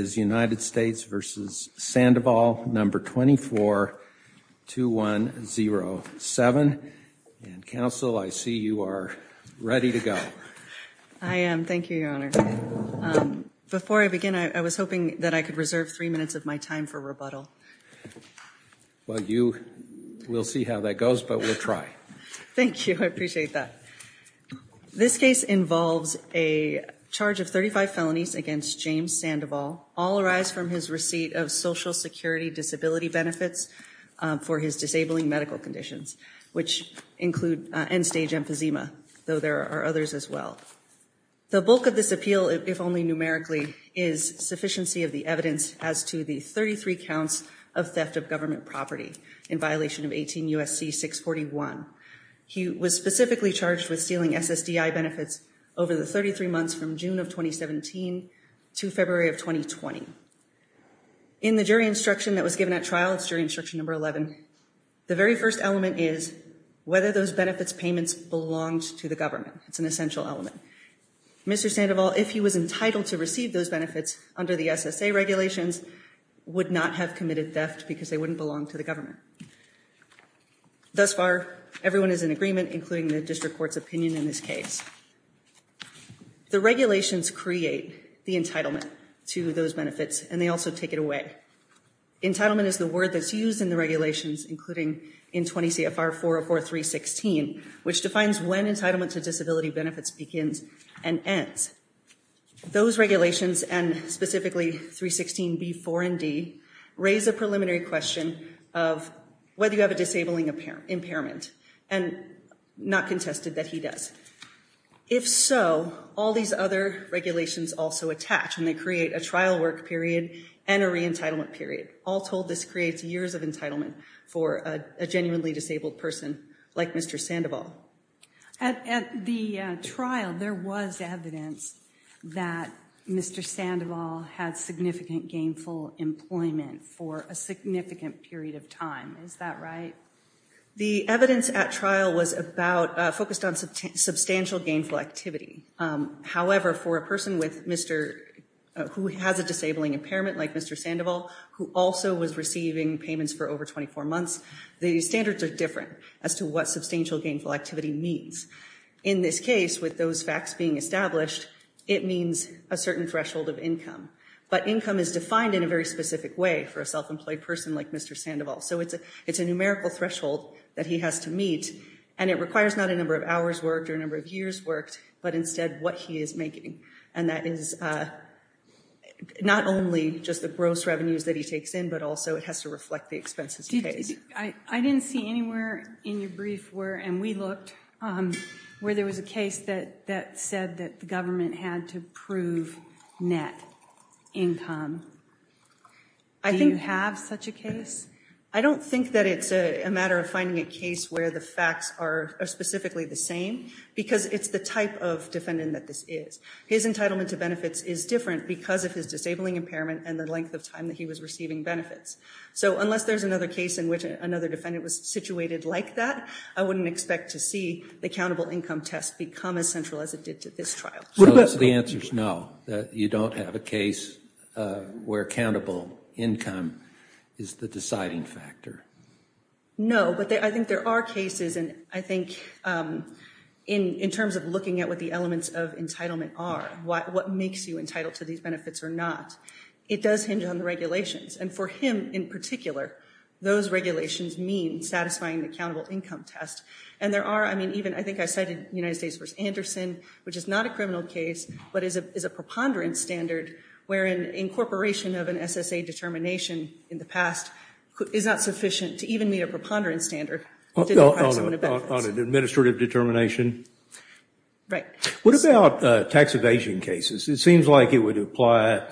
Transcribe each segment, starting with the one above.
v. Sandoval, No. 24-2107. And, Counsel, I see you are ready to go. I am. Thank you, Your Honor. Before I begin, I was hoping that I could reserve three minutes of my time for rebuttal. Well, you will see how that goes, but we'll try. Thank you. I appreciate that. This case involves a charge of 35 felonies against James Sandoval. All arise from his receipt of Social Security disability benefits for his disabling medical conditions, which include end-stage emphysema, though there are others as well. The bulk of this appeal, if only numerically, is sufficiency of the evidence as to the 33 counts of theft of government property in violation of 18 U.S.C. 641. He was specifically charged with stealing SSDI benefits over the 33 months from June of 2017 to February of 2020. In the jury instruction that was given at trial, it's jury instruction No. 11, the very first element is whether those benefits payments belonged to the government. It's an essential element. Mr. Sandoval, if he was entitled to receive those benefits under the SSA regulations, would not have committed theft because they wouldn't belong to the government. Thus far, everyone is in agreement, including the district court's opinion in this case. The regulations create the entitlement to those benefits, and they also take it away. Entitlement is the word that's used in the regulations, including in 20 CFR 404.3.16, which defines when entitlement to disability benefits begins and ends. Those regulations, and specifically 3.16.B.4. and D, raise a preliminary question of whether you have a disabling impairment, and not contested that he does. If so, all these other regulations also attach, and they create a trial work period and a re-entitlement period. All told, this creates years of entitlement for a genuinely disabled person like Mr. Sandoval. At the trial, there was evidence that Mr. Sandoval had significant gainful employment for a significant period of time. Is that right? The evidence at trial was focused on substantial gainful activity. However, for a person who has a disabling impairment like Mr. Sandoval, who also was receiving payments for over 24 months, the standards are different as to what substantial gainful activity means. In this case, with those facts being established, it means a certain threshold of income. But income is defined in a very specific way for a self-employed person like Mr. Sandoval. So it's a numerical threshold that he has to meet, and it requires not a number of hours worked or a number of years worked, but instead what he is making. And that is not only just the gross revenues that he takes in, but also it has to reflect the expenses paid. I didn't see anywhere in your brief where, and we looked, where there was a case that said that the government had to prove net income. Do you have such a case? I don't think that it's a matter of finding a case where the facts are specifically the same, because it's the type of defendant that this is. His entitlement to benefits is different because of his disabling impairment and the length of time that he was receiving benefits. So unless there's another case in which another defendant was situated like that, I wouldn't expect to see the countable income test become as central as it did to this trial. So the answer is no, that you don't have a case where countable income is the deciding factor? No, but I think there are cases, and I think in terms of looking at what the elements of entitlement are, what makes you entitled to these benefits or not, it does hinge on the regulations. And for him in particular, those regulations mean satisfying the countable income test. And there are, I mean, even I think I cited United States v. Anderson, which is not a criminal case, but is a preponderance standard wherein incorporation of an SSA determination in the past is not sufficient to even meet a preponderance standard. On an administrative determination? Right. What about tax evasion cases? It seems like it would apply,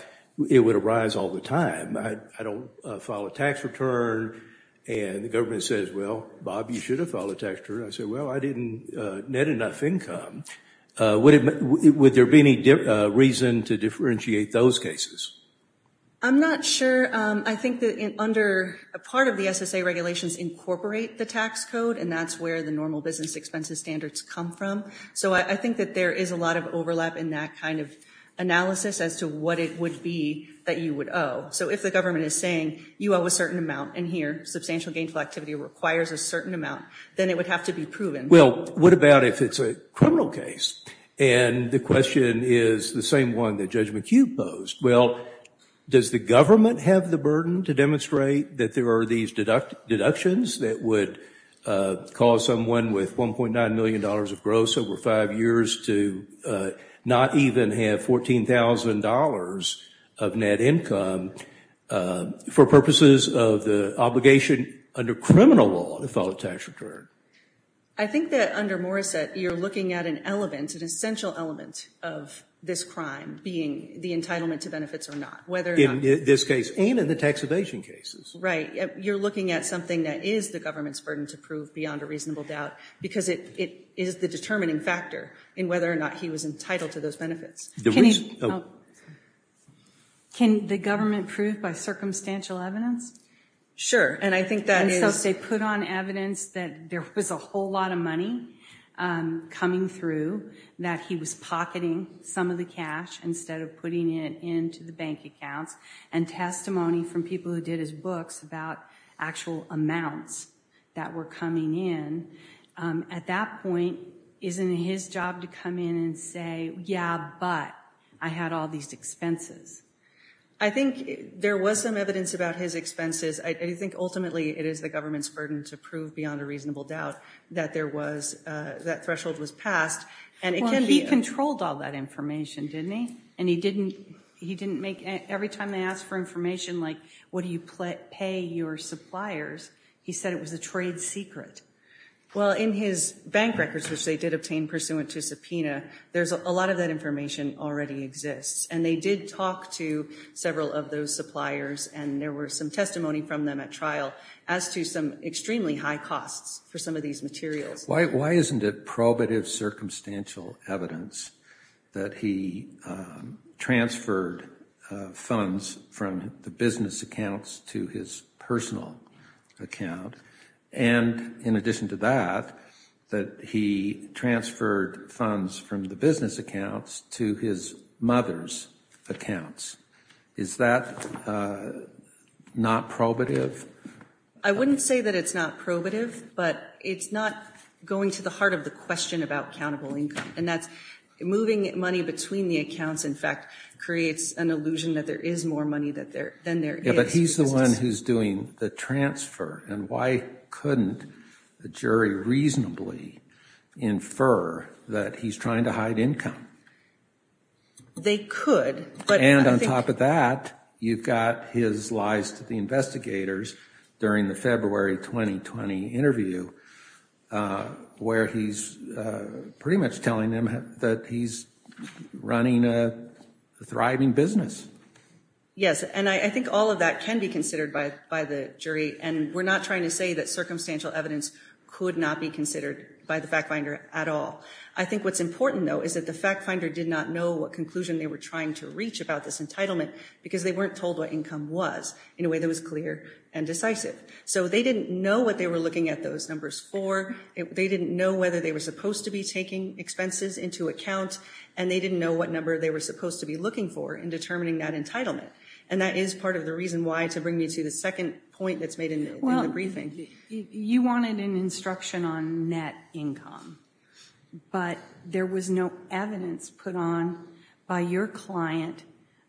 it would arise all the time. I don't file a tax return, and the government says, well, Bob, you should have filed a tax return. I say, well, I didn't net enough income. Would there be any reason to differentiate those cases? I'm not sure. I think that under a part of the SSA regulations incorporate the tax code, and that's where the normal business expenses standards come from. So I think that there is a lot of overlap in that kind of analysis as to what it would be that you would owe. So if the government is saying, you owe a certain amount, and here, substantial gainful activity requires a certain amount, then it would have to be proven. Well, what about if it's a criminal case? And the question is the same one that Judge McHugh posed. Well, does the government have the burden to demonstrate that there are these deductions that would cause someone with $1.9 million of gross over five years to not even have $14,000 of net income for purposes of the obligation under criminal law to file a tax return? I think that under Morrissette, you're looking at an element, an essential element of this crime, being the entitlement to benefits or not. In this case and in the tax evasion cases. Right. You're looking at something that is the government's burden to prove beyond a reasonable doubt, because it is the determining factor in whether or not he was entitled to those benefits. Can the government prove by circumstantial evidence? Sure. And I think that is... And so they put on evidence that there was a whole lot of money coming through, that he was pocketing some of the cash instead of putting it into the bank accounts, and testimony from people who did his books about actual amounts that were coming in. At that point, isn't it his job to come in and say, yeah, but I had all these expenses? I think there was some evidence about his expenses. I think ultimately it is the government's burden to prove beyond a reasonable doubt that that threshold was passed. He controlled all that information, didn't he? Every time they asked for information like, what do you pay your suppliers, he said it was a trade secret. Well, in his bank records, which they did obtain pursuant to subpoena, a lot of that information already exists. And they did talk to several of those suppliers, and there were some testimony from them at trial as to some extremely high costs for some of these materials. Why isn't it probative circumstantial evidence that he transferred funds from the business accounts to his personal account, and in addition to that, that he transferred funds from the business accounts to his mother's accounts? Is that not probative? I wouldn't say that it's not probative, but it's not going to the heart of the question about accountable income, and that's moving money between the accounts, in fact, creates an illusion that there is more money than there is. But he's the one who's doing the transfer, and why couldn't the jury reasonably infer that he's trying to hide income? And on top of that, you've got his lies to the investigators during the February 2020 interview, where he's pretty much telling them that he's running a thriving business. Yes, and I think all of that can be considered by the jury, and we're not trying to say that circumstantial evidence could not be considered by the fact finder at all. I think what's important, though, is that the fact finder did not know what conclusion they were trying to reach about this entitlement, because they weren't told what income was in a way that was clear and decisive. So they didn't know what they were looking at those numbers for. They didn't know whether they were supposed to be taking expenses into account, and they didn't know what number they were supposed to be looking for in determining that entitlement. And that is part of the reason why, to bring me to the second point that's made in the briefing. You wanted an instruction on net income, but there was no evidence put on by your client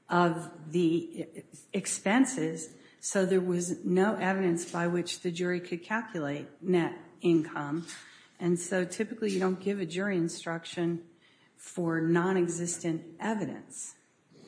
of the expenses, so there was no evidence by which the jury could calculate net income. And so typically you don't give a jury instruction for nonexistent evidence.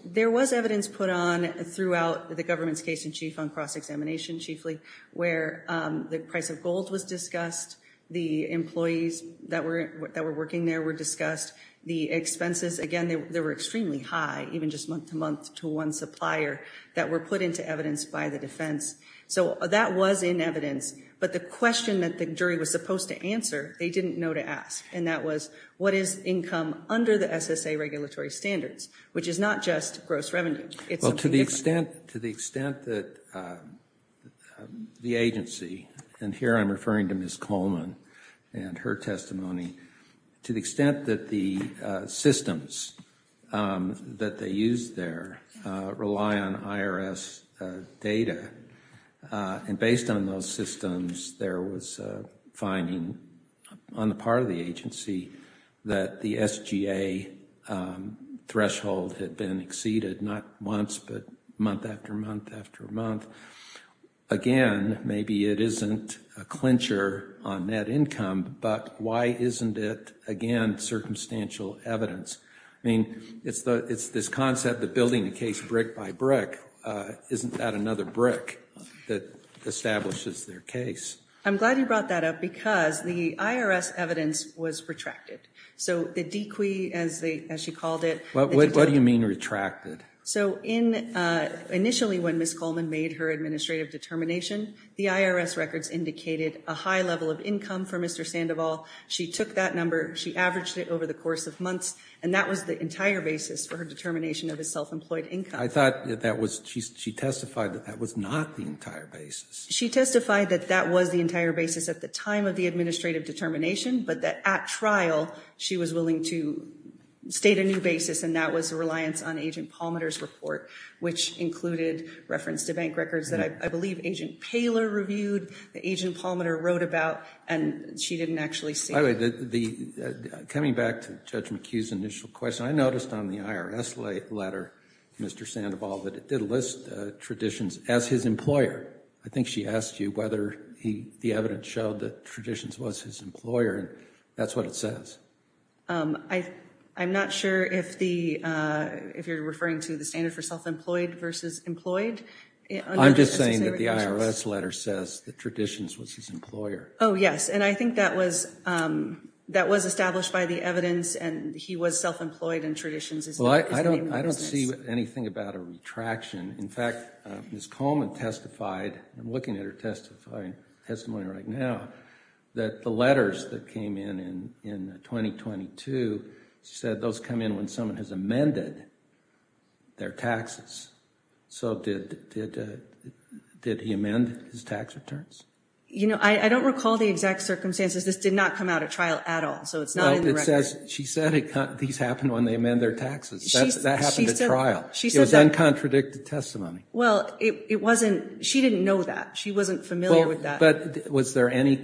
There was evidence put on throughout the government's case in chief on cross-examination, chiefly, where the price of gold was discussed, the employees that were working there were discussed, the expenses, again, they were extremely high, even just month-to-month to one supplier, that were put into evidence by the defense. So that was in evidence, but the question that the jury was supposed to answer, they didn't know to ask, and that was, what is income under the SSA regulatory standards, which is not just gross revenue. Well, to the extent that the agency, and here I'm referring to Ms. Coleman and her testimony, to the extent that the systems that they used there rely on IRS data, and based on those systems, there was a finding on the part of the agency that the SGA threshold had been exceeded, not once, but month after month after month. Again, maybe it isn't a clincher on net income, but why isn't it, again, circumstantial evidence? I mean, it's this concept of building a case brick by brick. Isn't that another brick that establishes their case? I'm glad you brought that up, because the IRS evidence was retracted. So the deque, as she called it... What do you mean, retracted? Initially, when Ms. Coleman made her administrative determination, the IRS records indicated a high level of income for Mr. Sandoval. She took that number, she averaged it over the course of months, and that was the entire basis for her determination of his self-employed income. I thought that was, she testified that that was not the entire basis. She testified that that was the entire basis at the time of the administrative determination, but that at trial, she was willing to state a new basis, and that was a reliance on Agent Palmiter's report, which included reference to bank records that I believe Agent Paler reviewed, that Agent Palmiter wrote about, and she didn't actually see. By the way, coming back to Judge McHugh's initial question, I noticed on the IRS letter to Mr. Sandoval that it did list Traditions as his employer. I think she asked you whether the evidence showed that Traditions was his employer, and that's what it says. I'm not sure if you're referring to the standard for self-employed versus employed. I'm just saying that the IRS letter says that Traditions was his employer. Oh, yes, and I think that was established by the evidence, and he was self-employed in Traditions. I don't see anything about a retraction. In fact, Ms. Coleman testified, I'm looking at her testimony right now, that the letters that came in in 2022 said those come in when someone has amended their taxes. Did he amend his tax returns? I don't recall the exact circumstances. This did not come out at trial at all, so it's not in the record. She said these happen when they amend their taxes. That happened at trial. It was uncontradicted testimony. She didn't know that. She wasn't familiar with that. But was there any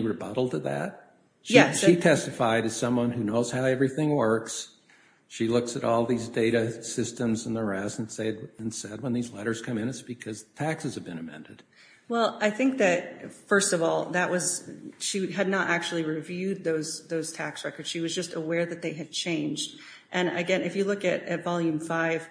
rebuttal to that? She testified as someone who knows how everything works. She looks at all these data systems and the rest and said when these letters come in, it's because taxes have been amended. Well, I think that, first of all, she had not actually reviewed those tax records. She was just aware that they had changed. And again, if you look at Volume 5,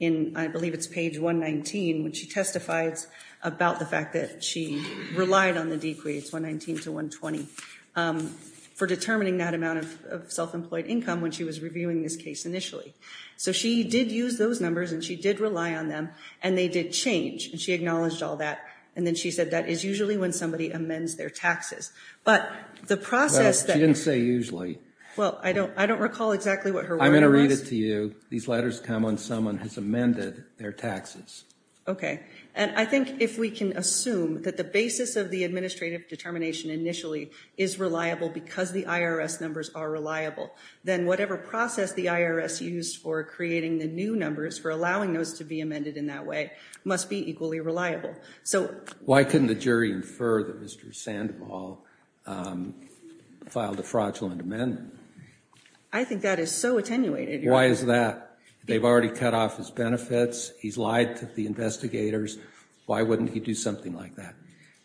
I believe it's page 119, when she testifies about the fact that she relied on the DQA, it's 119 to 120, for determining that amount of self-employed income when she was reviewing this case initially. So she did use those numbers and she did rely on them, and they did change. And she acknowledged all that, and then she said that is usually when somebody amends their taxes. Well, she didn't say usually. I'm going to read it to you. These letters come when someone has amended their taxes. Okay. And I think if we can assume that the basis of the administrative determination initially is reliable because the IRS numbers are reliable, then whatever process the IRS used for creating the new numbers, for allowing those to be amended in that way, must be equally reliable. Why couldn't the jury infer that Mr. Sandoval filed a fraudulent amendment? I think that is so attenuated. Why is that? They've already cut off his benefits. He's lied to the investigators. Why wouldn't he do something like that?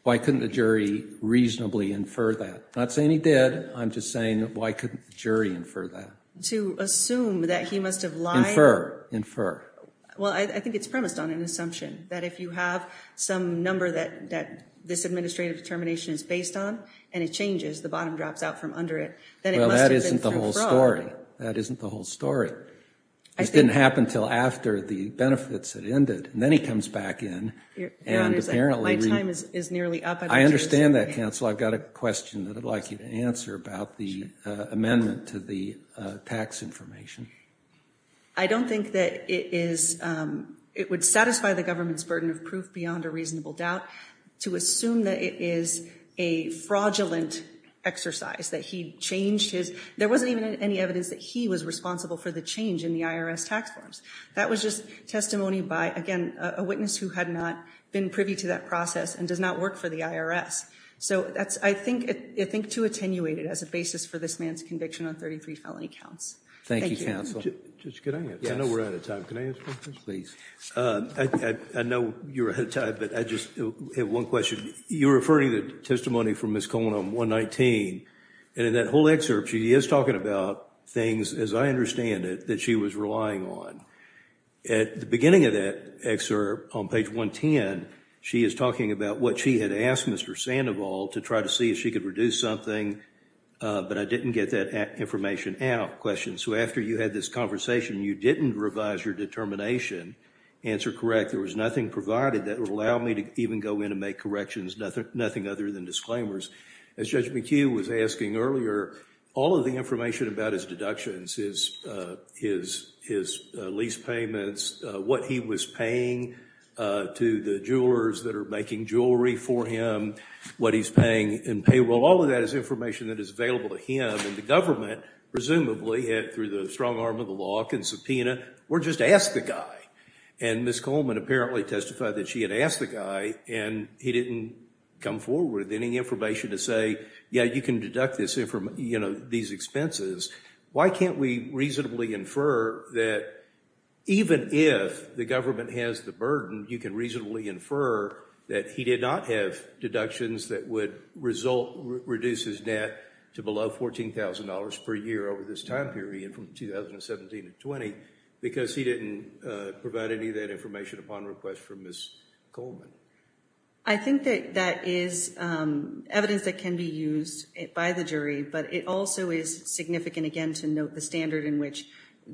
Why couldn't the jury reasonably infer that? I'm not saying he did. I'm just saying why couldn't the jury infer that? To assume that he must have lied? Well, I think it's premised on an assumption that if you have some number that this administrative determination is based on and it changes, the bottom drops out from under it, then it must have been through fraud. That isn't the whole story. This didn't happen until after the benefits had ended. Then he comes back in. I understand that, counsel. I've got a question that I'd like you to answer about the amendment to the tax information. I don't think that it would satisfy the government's burden of proof beyond a reasonable doubt to assume that it is a fraudulent exercise. There wasn't even any evidence that he was responsible for the change in the IRS tax forms. That was just testimony by, again, a witness who had not been privy to that process and does not work for the IRS. So that's, I think, too attenuated as a basis for this man's conviction on 33 felony counts. Thank you, counsel. I know you're out of time, but I just have one question. You're referring to testimony from Ms. Colon on 119, and in that whole excerpt she is talking about things, as I understand it, that she was relying on. At the beginning of that excerpt, on page 110, she is talking about what she had asked Mr. Sandoval to try to see if she could reduce something, but I didn't get that information out. So after you had this conversation, you didn't revise your determination, answer correct. There was nothing provided that would allow me to even go in and make corrections, nothing other than disclaimers. As Judge McHugh was asking earlier, all of the information about his deductions, his lease payments, what he was paying to the jewelers that are making jewelry for him, what he's paying in payroll, all of that is information that is available to him, and the government, presumably, through the strong arm of the law, can subpoena or just ask the guy. And Ms. Coleman apparently testified that she had asked the guy, and he didn't come forward with any information to say, yeah, you can deduct these expenses. Why can't we reasonably infer that even if the government has the burden, you can reasonably infer that he did not have deductions that would reduce his debt to below $14,000 per year over this time period from 2017 to 20, because he didn't provide any of that information upon request from Ms. Coleman. I think that that is evidence that can be used by the jury, but it also is significant, again, to note the standard in which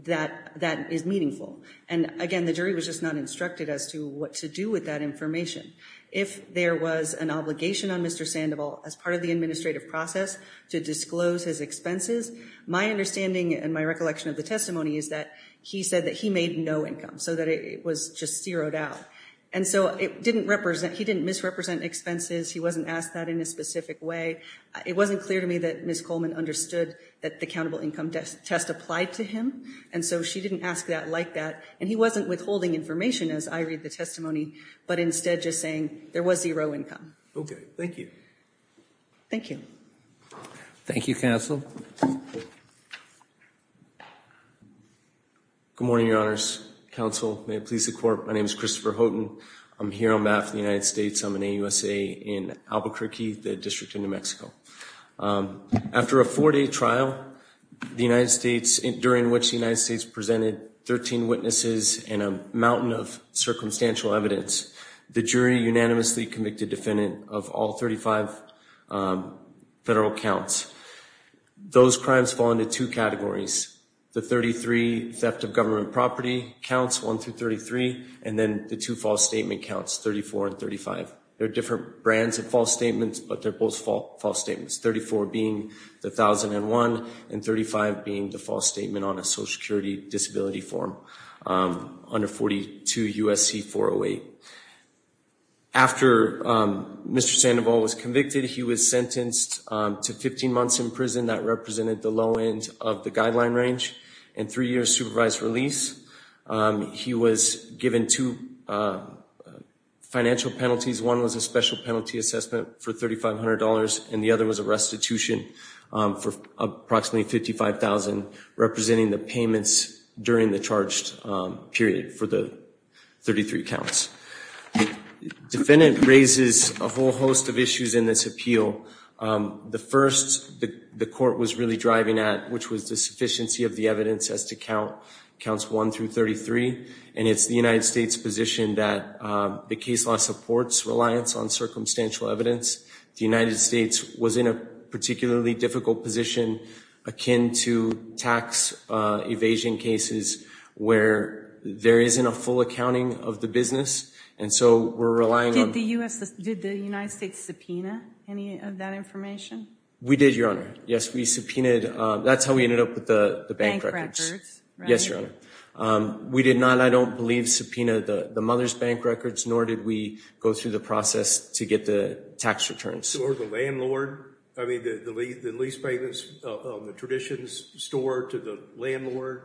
that is meaningful. And again, the jury was just not instructed as to what to do with that information. If there was an obligation on Mr. Sandoval as part of the administrative process to disclose his expenses, my understanding and my recollection of the testimony is that he said that he made no income, so that it was just zeroed out. And so it didn't represent, he didn't misrepresent expenses, he wasn't asked that in a specific way. It wasn't clear to me that Ms. Coleman understood that the countable income test applied to him, and so she didn't ask that like that, and he wasn't withholding information as I read the testimony, but instead just saying there was zero income. Okay, thank you. Thank you. Thank you, Counsel. Good morning, Your Honors. Counsel, may it please the Court, my name is Christopher Houghton. I'm here on behalf of the United States. I'm an AUSA in Albuquerque, the District of New Mexico. After a four-day trial during which the United States presented 13 witnesses and a mountain of circumstantial evidence, the jury unanimously convicted defendant of all 35 federal counts. Those crimes fall into two categories. The 33 theft of government property counts, one through 33, and then the two false statement counts, 34 and 35. They're different brands of false statements, but they're both false statements, 34 being the 1001 and 35 being the false statement on a Social Security Disability Form under 42 U.S.C. 408. After Mr. Sandoval was convicted, he was sentenced to 15 months in prison. That represented the low end of the guideline range and three years supervised release. He was given two financial penalties. One was a special penalty assessment for $3,500 and the other was a restitution for approximately $55,000 representing the payments during the charged period for the 33 counts. The defendant raises a whole host of issues in this appeal. The first the court was really driving at, which was the sufficiency of the evidence as to count counts one through 33, and it's the United States position that the case law supports reliance on circumstantial evidence. The United States was in a particularly difficult position akin to tax evasion cases where there isn't a full accounting of the business, and so we're relying on... Did the United States subpoena any of that information? We did, Your Honor. Yes, we subpoenaed. That's how we ended up with the bank records. We did not, I don't believe, subpoena the mother's bank records, nor did we go through the process to get the tax returns. Or the landlord? I mean, the lease payments, the traditions store to the landlord?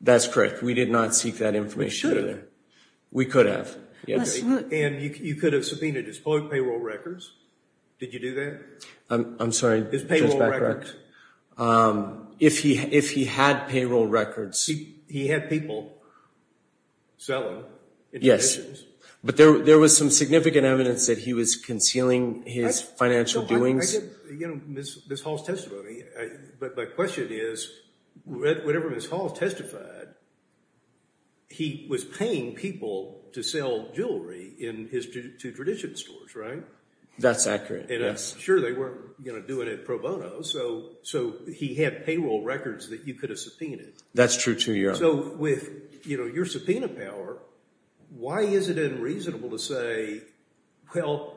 That's correct. We did not seek that information. We could have. And you could have subpoenaed his public payroll records. Did you do that? I'm sorry. His payroll records. If he had payroll records. He had people selling. Yes, but there was some significant evidence that he was concealing his financial doings. I get Ms. Hall's testimony, but my question is, whenever Ms. Hall testified, he was paying people to sell jewelry to tradition stores, right? That's accurate, yes. Sure, they weren't doing it pro bono, so he had payroll records that you could have subpoenaed. That's true, too, Your Honor. So with your subpoena power, why is it unreasonable to say, well,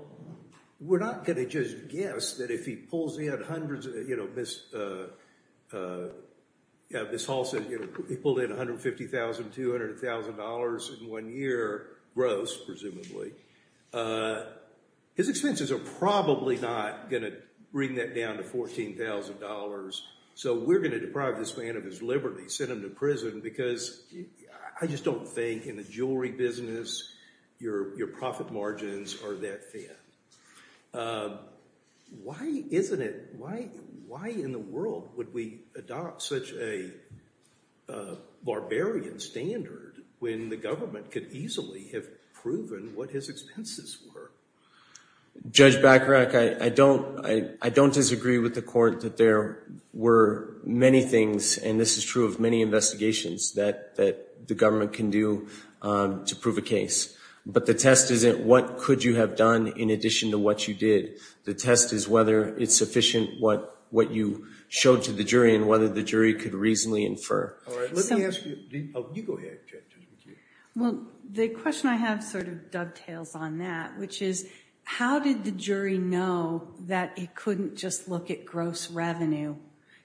we're not going to just guess that if he pulls in hundreds of dollars, you know, Ms. Hall said he pulled in $150,000, $200,000 in one year. Gross, presumably. His expenses are probably not going to bring that down to $14,000, so we're going to deprive this man of his liberty, send him to prison, because I just don't think in the jewelry business your profit margins are that thin. Why isn't it, why in the world would we adopt such a barbarian standard when the government could easily have proven what his expenses were? Judge Bacharach, I don't disagree with the Court that there were many things, and this is true of many investigations, that the government can do to prove a case. But the test isn't what could you have done in addition to what you did. The test is whether it's sufficient what you showed to the jury and whether the jury could reasonably infer. Well, the question I have sort of dovetails on that, which is how did the jury know that it couldn't just look at gross revenue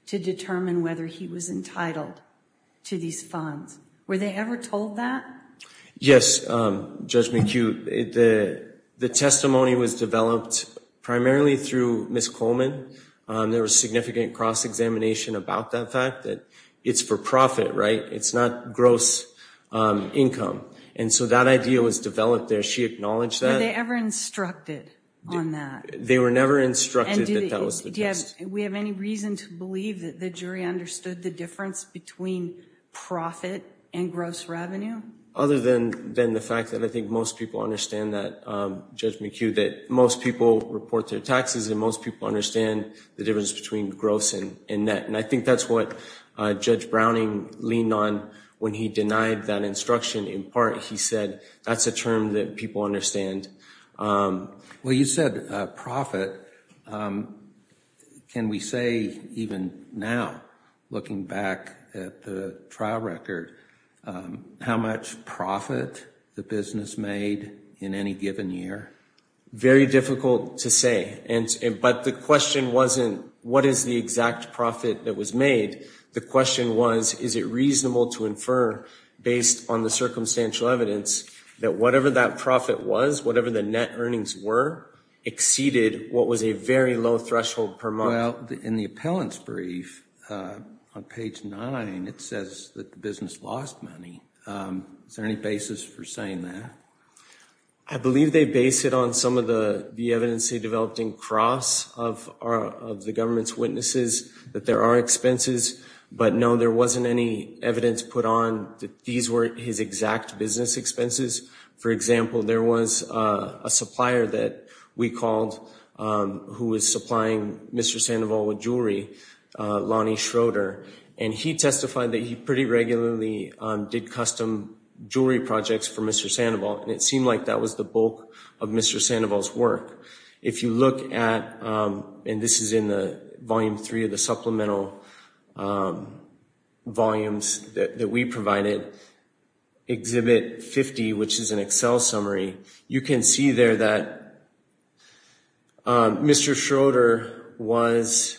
to determine whether he was entitled to these funds? Were they ever told that? Yes, Judge McHugh. The testimony was developed primarily through Ms. Coleman. There was significant cross-examination about that fact, that it's for profit, right? It's not gross income. And so that idea was developed there. She acknowledged that. Were they ever instructed on that? They were never instructed that that was the test. Do we have any reason to believe that the jury understood the difference between profit and gross revenue? Other than the fact that I think most people understand that, Judge McHugh, that most people report their taxes and most people understand the difference between gross and net. And I think that's what Judge Browning leaned on when he denied that instruction. In part, he said that's a term that people understand. Well, you said profit. Can we say even now, looking back at the trial record, how much profit the business made in any given year? Very difficult to say. But the question wasn't what is the exact profit that was made. The question was, is it reasonable to infer, based on the circumstantial evidence, that whatever that profit was, whatever the net earnings were, exceeded what was a very low threshold per month? Well, in the appellant's brief, on page 9, it says that the business lost money. Is there any basis for saying that? I believe they base it on some of the evidence they developed in cross of the government's witnesses, that there are expenses. But no, there wasn't any evidence put on that these were his exact business expenses. For example, there was a supplier that we called who was supplying Mr. Sandoval with jewelry, Lonnie Schroeder. And he testified that he pretty regularly did custom jewelry projects for Mr. Sandoval. And it seemed like that was the bulk of Mr. Sandoval's work. If you look at, and this is in Volume 3 of the supplemental volumes that we provided, Exhibit 50, which is an Excel summary, you can see there that Mr. Schroeder was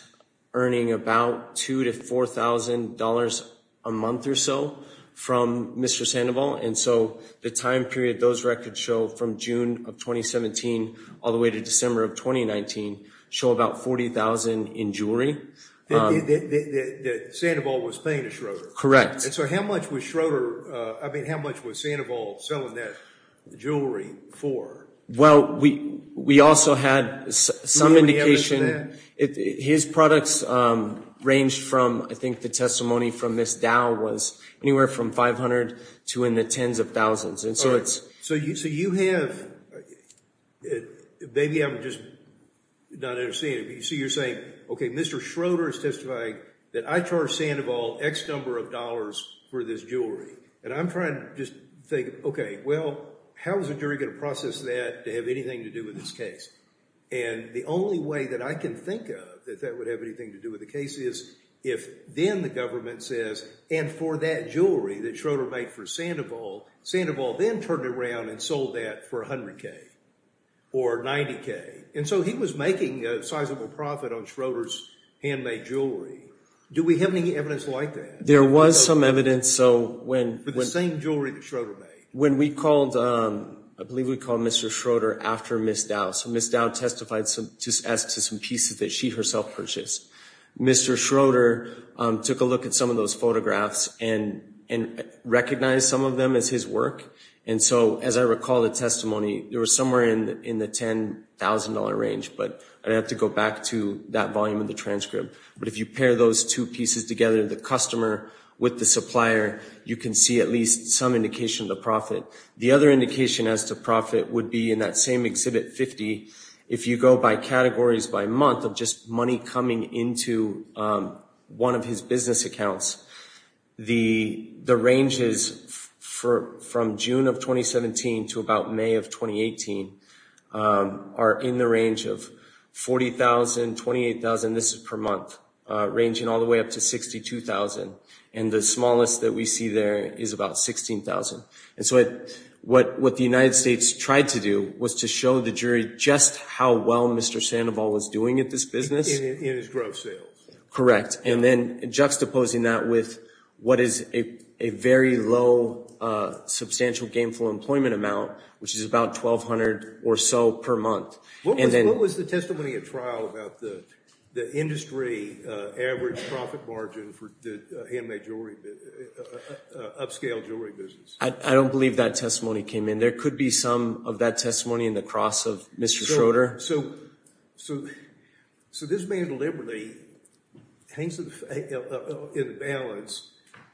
earning about $2,000 to $4,000 a month or so from Mr. Sandoval. And so the time period those records show from June of 2017 all the way to December of 2019 show about $40,000 in jewelry. That Sandoval was paying to Schroeder? Correct. And so how much was Schroeder, I mean, how much was Sandoval selling that jewelry for? Well, we also had some indication. His products ranged from, I think the testimony from Ms. Dow was anywhere from $500 to in the tens of thousands. So you have, maybe I'm just not understanding, but you're saying, okay, Mr. Schroeder is testifying that I charged Sandoval X number of dollars for this jewelry. And I'm trying to just think, okay, well, how is a jury going to process that to have anything to do with this case? And the only way that I can think of that that would have anything to do with the case is if then the government says, and for that jewelry that Schroeder made for Sandoval, Sandoval then turned around and sold that for $100K or $90K. And so he was making a sizable profit on Schroeder's handmade jewelry. Do we have any evidence like that? There was some evidence. So when the same jewelry that Schroeder made. When we called, I believe we called Mr. Schroeder after Ms. Dow. So Ms. Dow testified to some pieces that she herself purchased. Mr. Schroeder took a look at some of those photographs and recognized some of them as his work. And so, as I recall the testimony, there was somewhere in the $10,000 range, but I'd have to go back to that volume of the transcript. But if you pair those two pieces together, the customer with the supplier, you can see at least some indication of the profit. The other indication as to profit would be in that same Exhibit 50. If you go by categories by month of just money coming into one of his business accounts, the ranges from June of 2017 to about May of 2018 are in the range of $40,000, $28,000, this is per month, ranging all the way up to $62,000. And the smallest that we see there is about $16,000. And so what the United States tried to do was to show the jury just how well Mr. Sandoval was doing at this business. In his gross sales. Correct. And then juxtaposing that with what is a very low substantial gainful employment amount, which is about $1,200 or so per month. What was the testimony at trial about the industry average profit margin for the handmade jewelry, upscale jewelry business? I don't believe that testimony came in. There could be some of that testimony in the cross of Mr. Schroeder. So this man deliberately hangs in the balance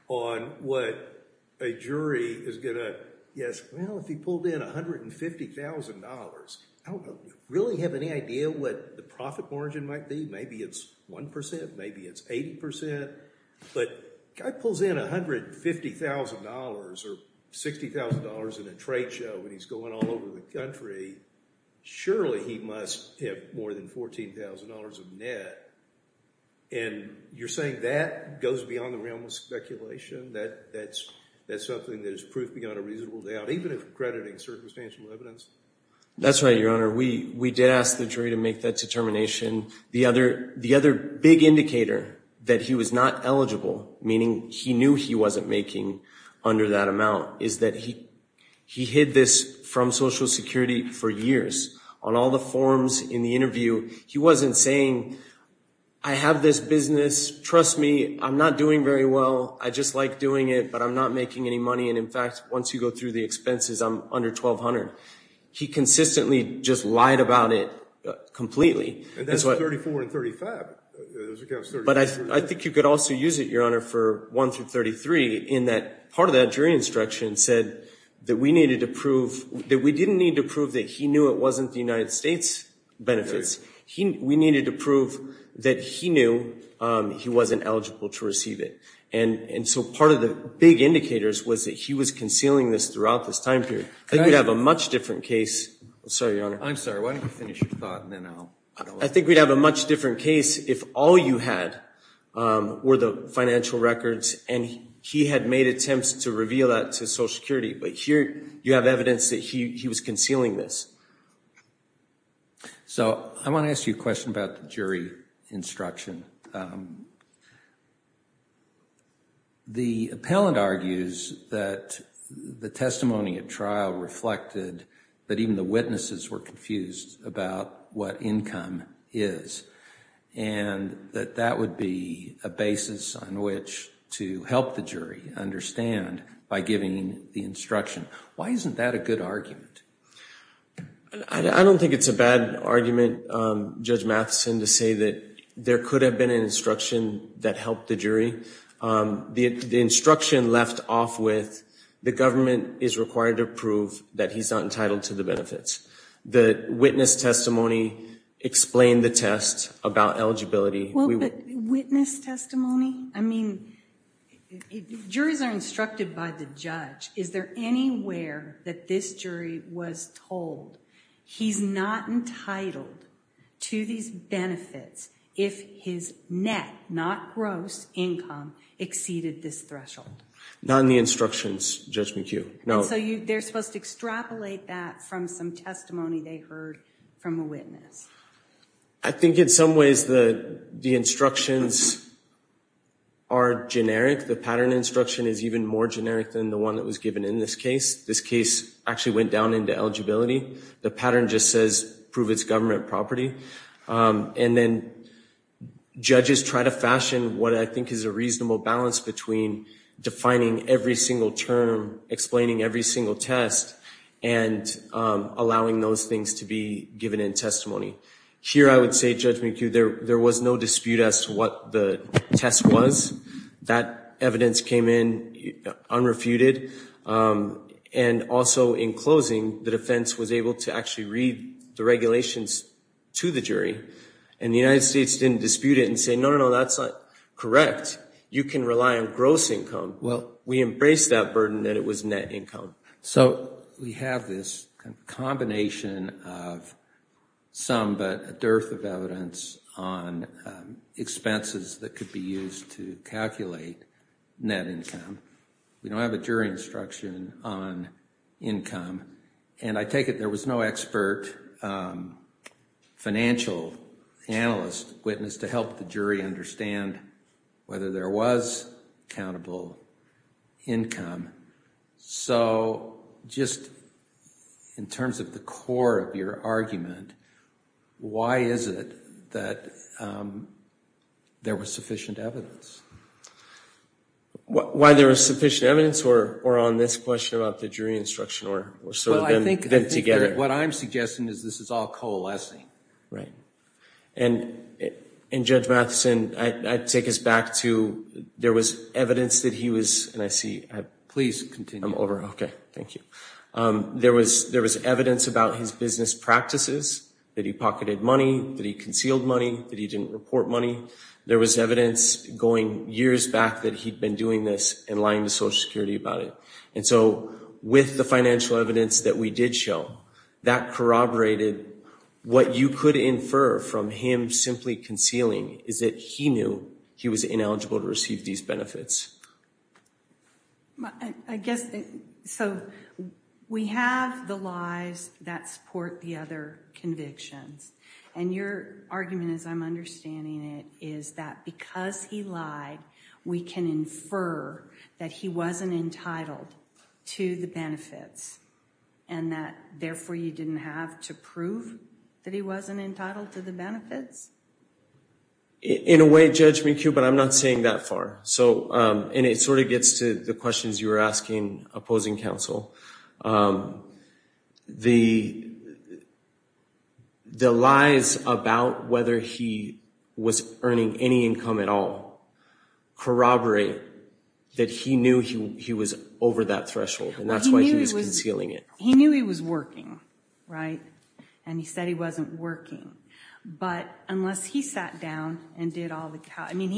on what a jury is going to guess. Well, if he pulled in $150,000, I don't really have any idea what the profit margin might be. Maybe it's 1%. Maybe it's 80%. But the guy pulls in $150,000 or $60,000 in a trade show and he's going all over the country. Surely he must have more than $14,000 of net. And you're saying that goes beyond the realm of speculation? That's something that is proof beyond a reasonable doubt, even if accrediting circumstantial evidence? That's right, Your Honor. We did ask the jury to make that determination. The other big indicator that he was not eligible, meaning he knew he wasn't making under that amount, is that he hid this from Social Security for years. On all the forms in the interview, he wasn't saying, I have this business. Trust me, I'm not doing very well. I just like doing it, but I'm not making any money. And in fact, once you go through the expenses, I'm under $1,200. He consistently just lied about it completely. And that's 34 and 35. But I think you could also use it, Your Honor, for 1 through 33 in that part of that jury instruction said that we needed to prove, that we didn't need to prove that he knew it wasn't the United States benefits. We needed to prove that he knew he wasn't eligible to receive it. And so part of the big indicators was that he was concealing this throughout this time period. I think we'd have a much different case. I'm sorry, Your Honor. I'm sorry. Why don't you finish your thought and then I'll... I think we'd have a much different case if all you had were the financial records and he had made attempts to reveal that to Social Security. But here you have evidence that he was concealing this. So I want to ask you a question about the jury instruction. The appellant argues that the testimony at trial reflected that even the witnesses were confused about what income is and that that would be a basis on which to help the jury understand by giving the instruction. Why isn't that a good argument? I don't think it's a bad argument, Judge Matheson, to say that there could have been an instruction that helped the jury. The instruction left off with the government is required to prove that he's not entitled to the benefits. The witness testimony explained the test about eligibility. Witness testimony? I mean, juries are instructed by the judge. Is there anywhere that this jury was told he's not entitled to these benefits if his net, not gross, income exceeded this threshold? Not in the instructions, Judge McHugh. No. So they're supposed to extrapolate that from some testimony they heard from a witness. I think in some ways the instructions are generic. The pattern instruction is even more generic than the one that was given in this case. This case actually went down into eligibility. The pattern just says prove it's government property. And then judges try to fashion what I think is a reasonable balance between defining every single term, explaining every single test, and allowing those things to be given in testimony. Here I would say, Judge McHugh, there was no dispute as to what the test was. That evidence came in unrefuted. And also in closing, the defense was able to actually read the regulations to the jury. And the United States didn't dispute it and say, no, no, no, that's not correct. You can rely on gross income. Well, we embraced that burden that it was net income. So we have this combination of some, but a dearth of evidence on expenses that could be used to calculate net income. We don't have a jury instruction on income. And I take it there was no expert financial analyst witness to help the jury understand whether there was countable income. So just in terms of the core of your argument, why is it that there was sufficient evidence? Why there was sufficient evidence or on this question about the jury instruction or sort of them together? Well, I think what I'm suggesting is this is all coalescing. Right. And Judge Matheson, I take us back to there was evidence that he was, and I see, please continue. I'm over. Okay. Thank you. There was evidence about his business practices, that he pocketed money, that he concealed money, that he didn't report money. There was evidence going years back that he'd been doing this and lying to Social Security about it. And so with the financial evidence that we did show, that corroborated what you could infer from him simply concealing is that he knew he was ineligible to receive these benefits. I guess, so we have the lies that support the other convictions. And your argument, as I'm understanding it, is that because he lied, we can infer that he wasn't entitled to the benefits and that therefore you didn't have to prove that he wasn't entitled to the benefits? In a way, Judge McHugh, but I'm not saying that far. So, and it sort of gets to the questions you were asking opposing counsel. The lies about whether he was earning any income at all corroborate that he knew he was over that threshold. And that's why he was concealing it. He knew he was working, right? And he said he wasn't working. But unless he sat down and did all the, I mean,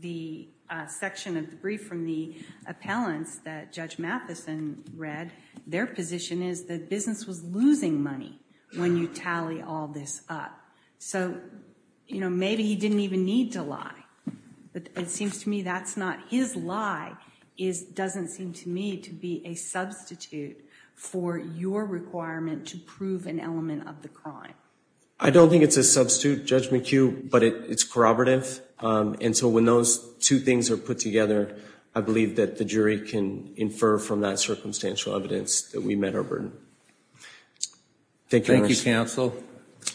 the section of the brief from the appellants that Judge Mathison read, their position is that business was losing money when you tally all this up. So, you know, maybe he didn't even need to lie. But it seems to me that's not his lie. It doesn't seem to me to be a substitute for your requirement to prove an element of the crime. I don't think it's a substitute, Judge McHugh, but it's corroborative. And so when those two things are put together, I believe that the jury can infer from that circumstantial evidence that we met our burden. Thank you, counsel. I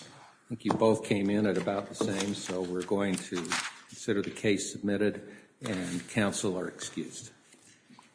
think you both came in at about the same, so we're going to consider the case submitted and counsel are excused.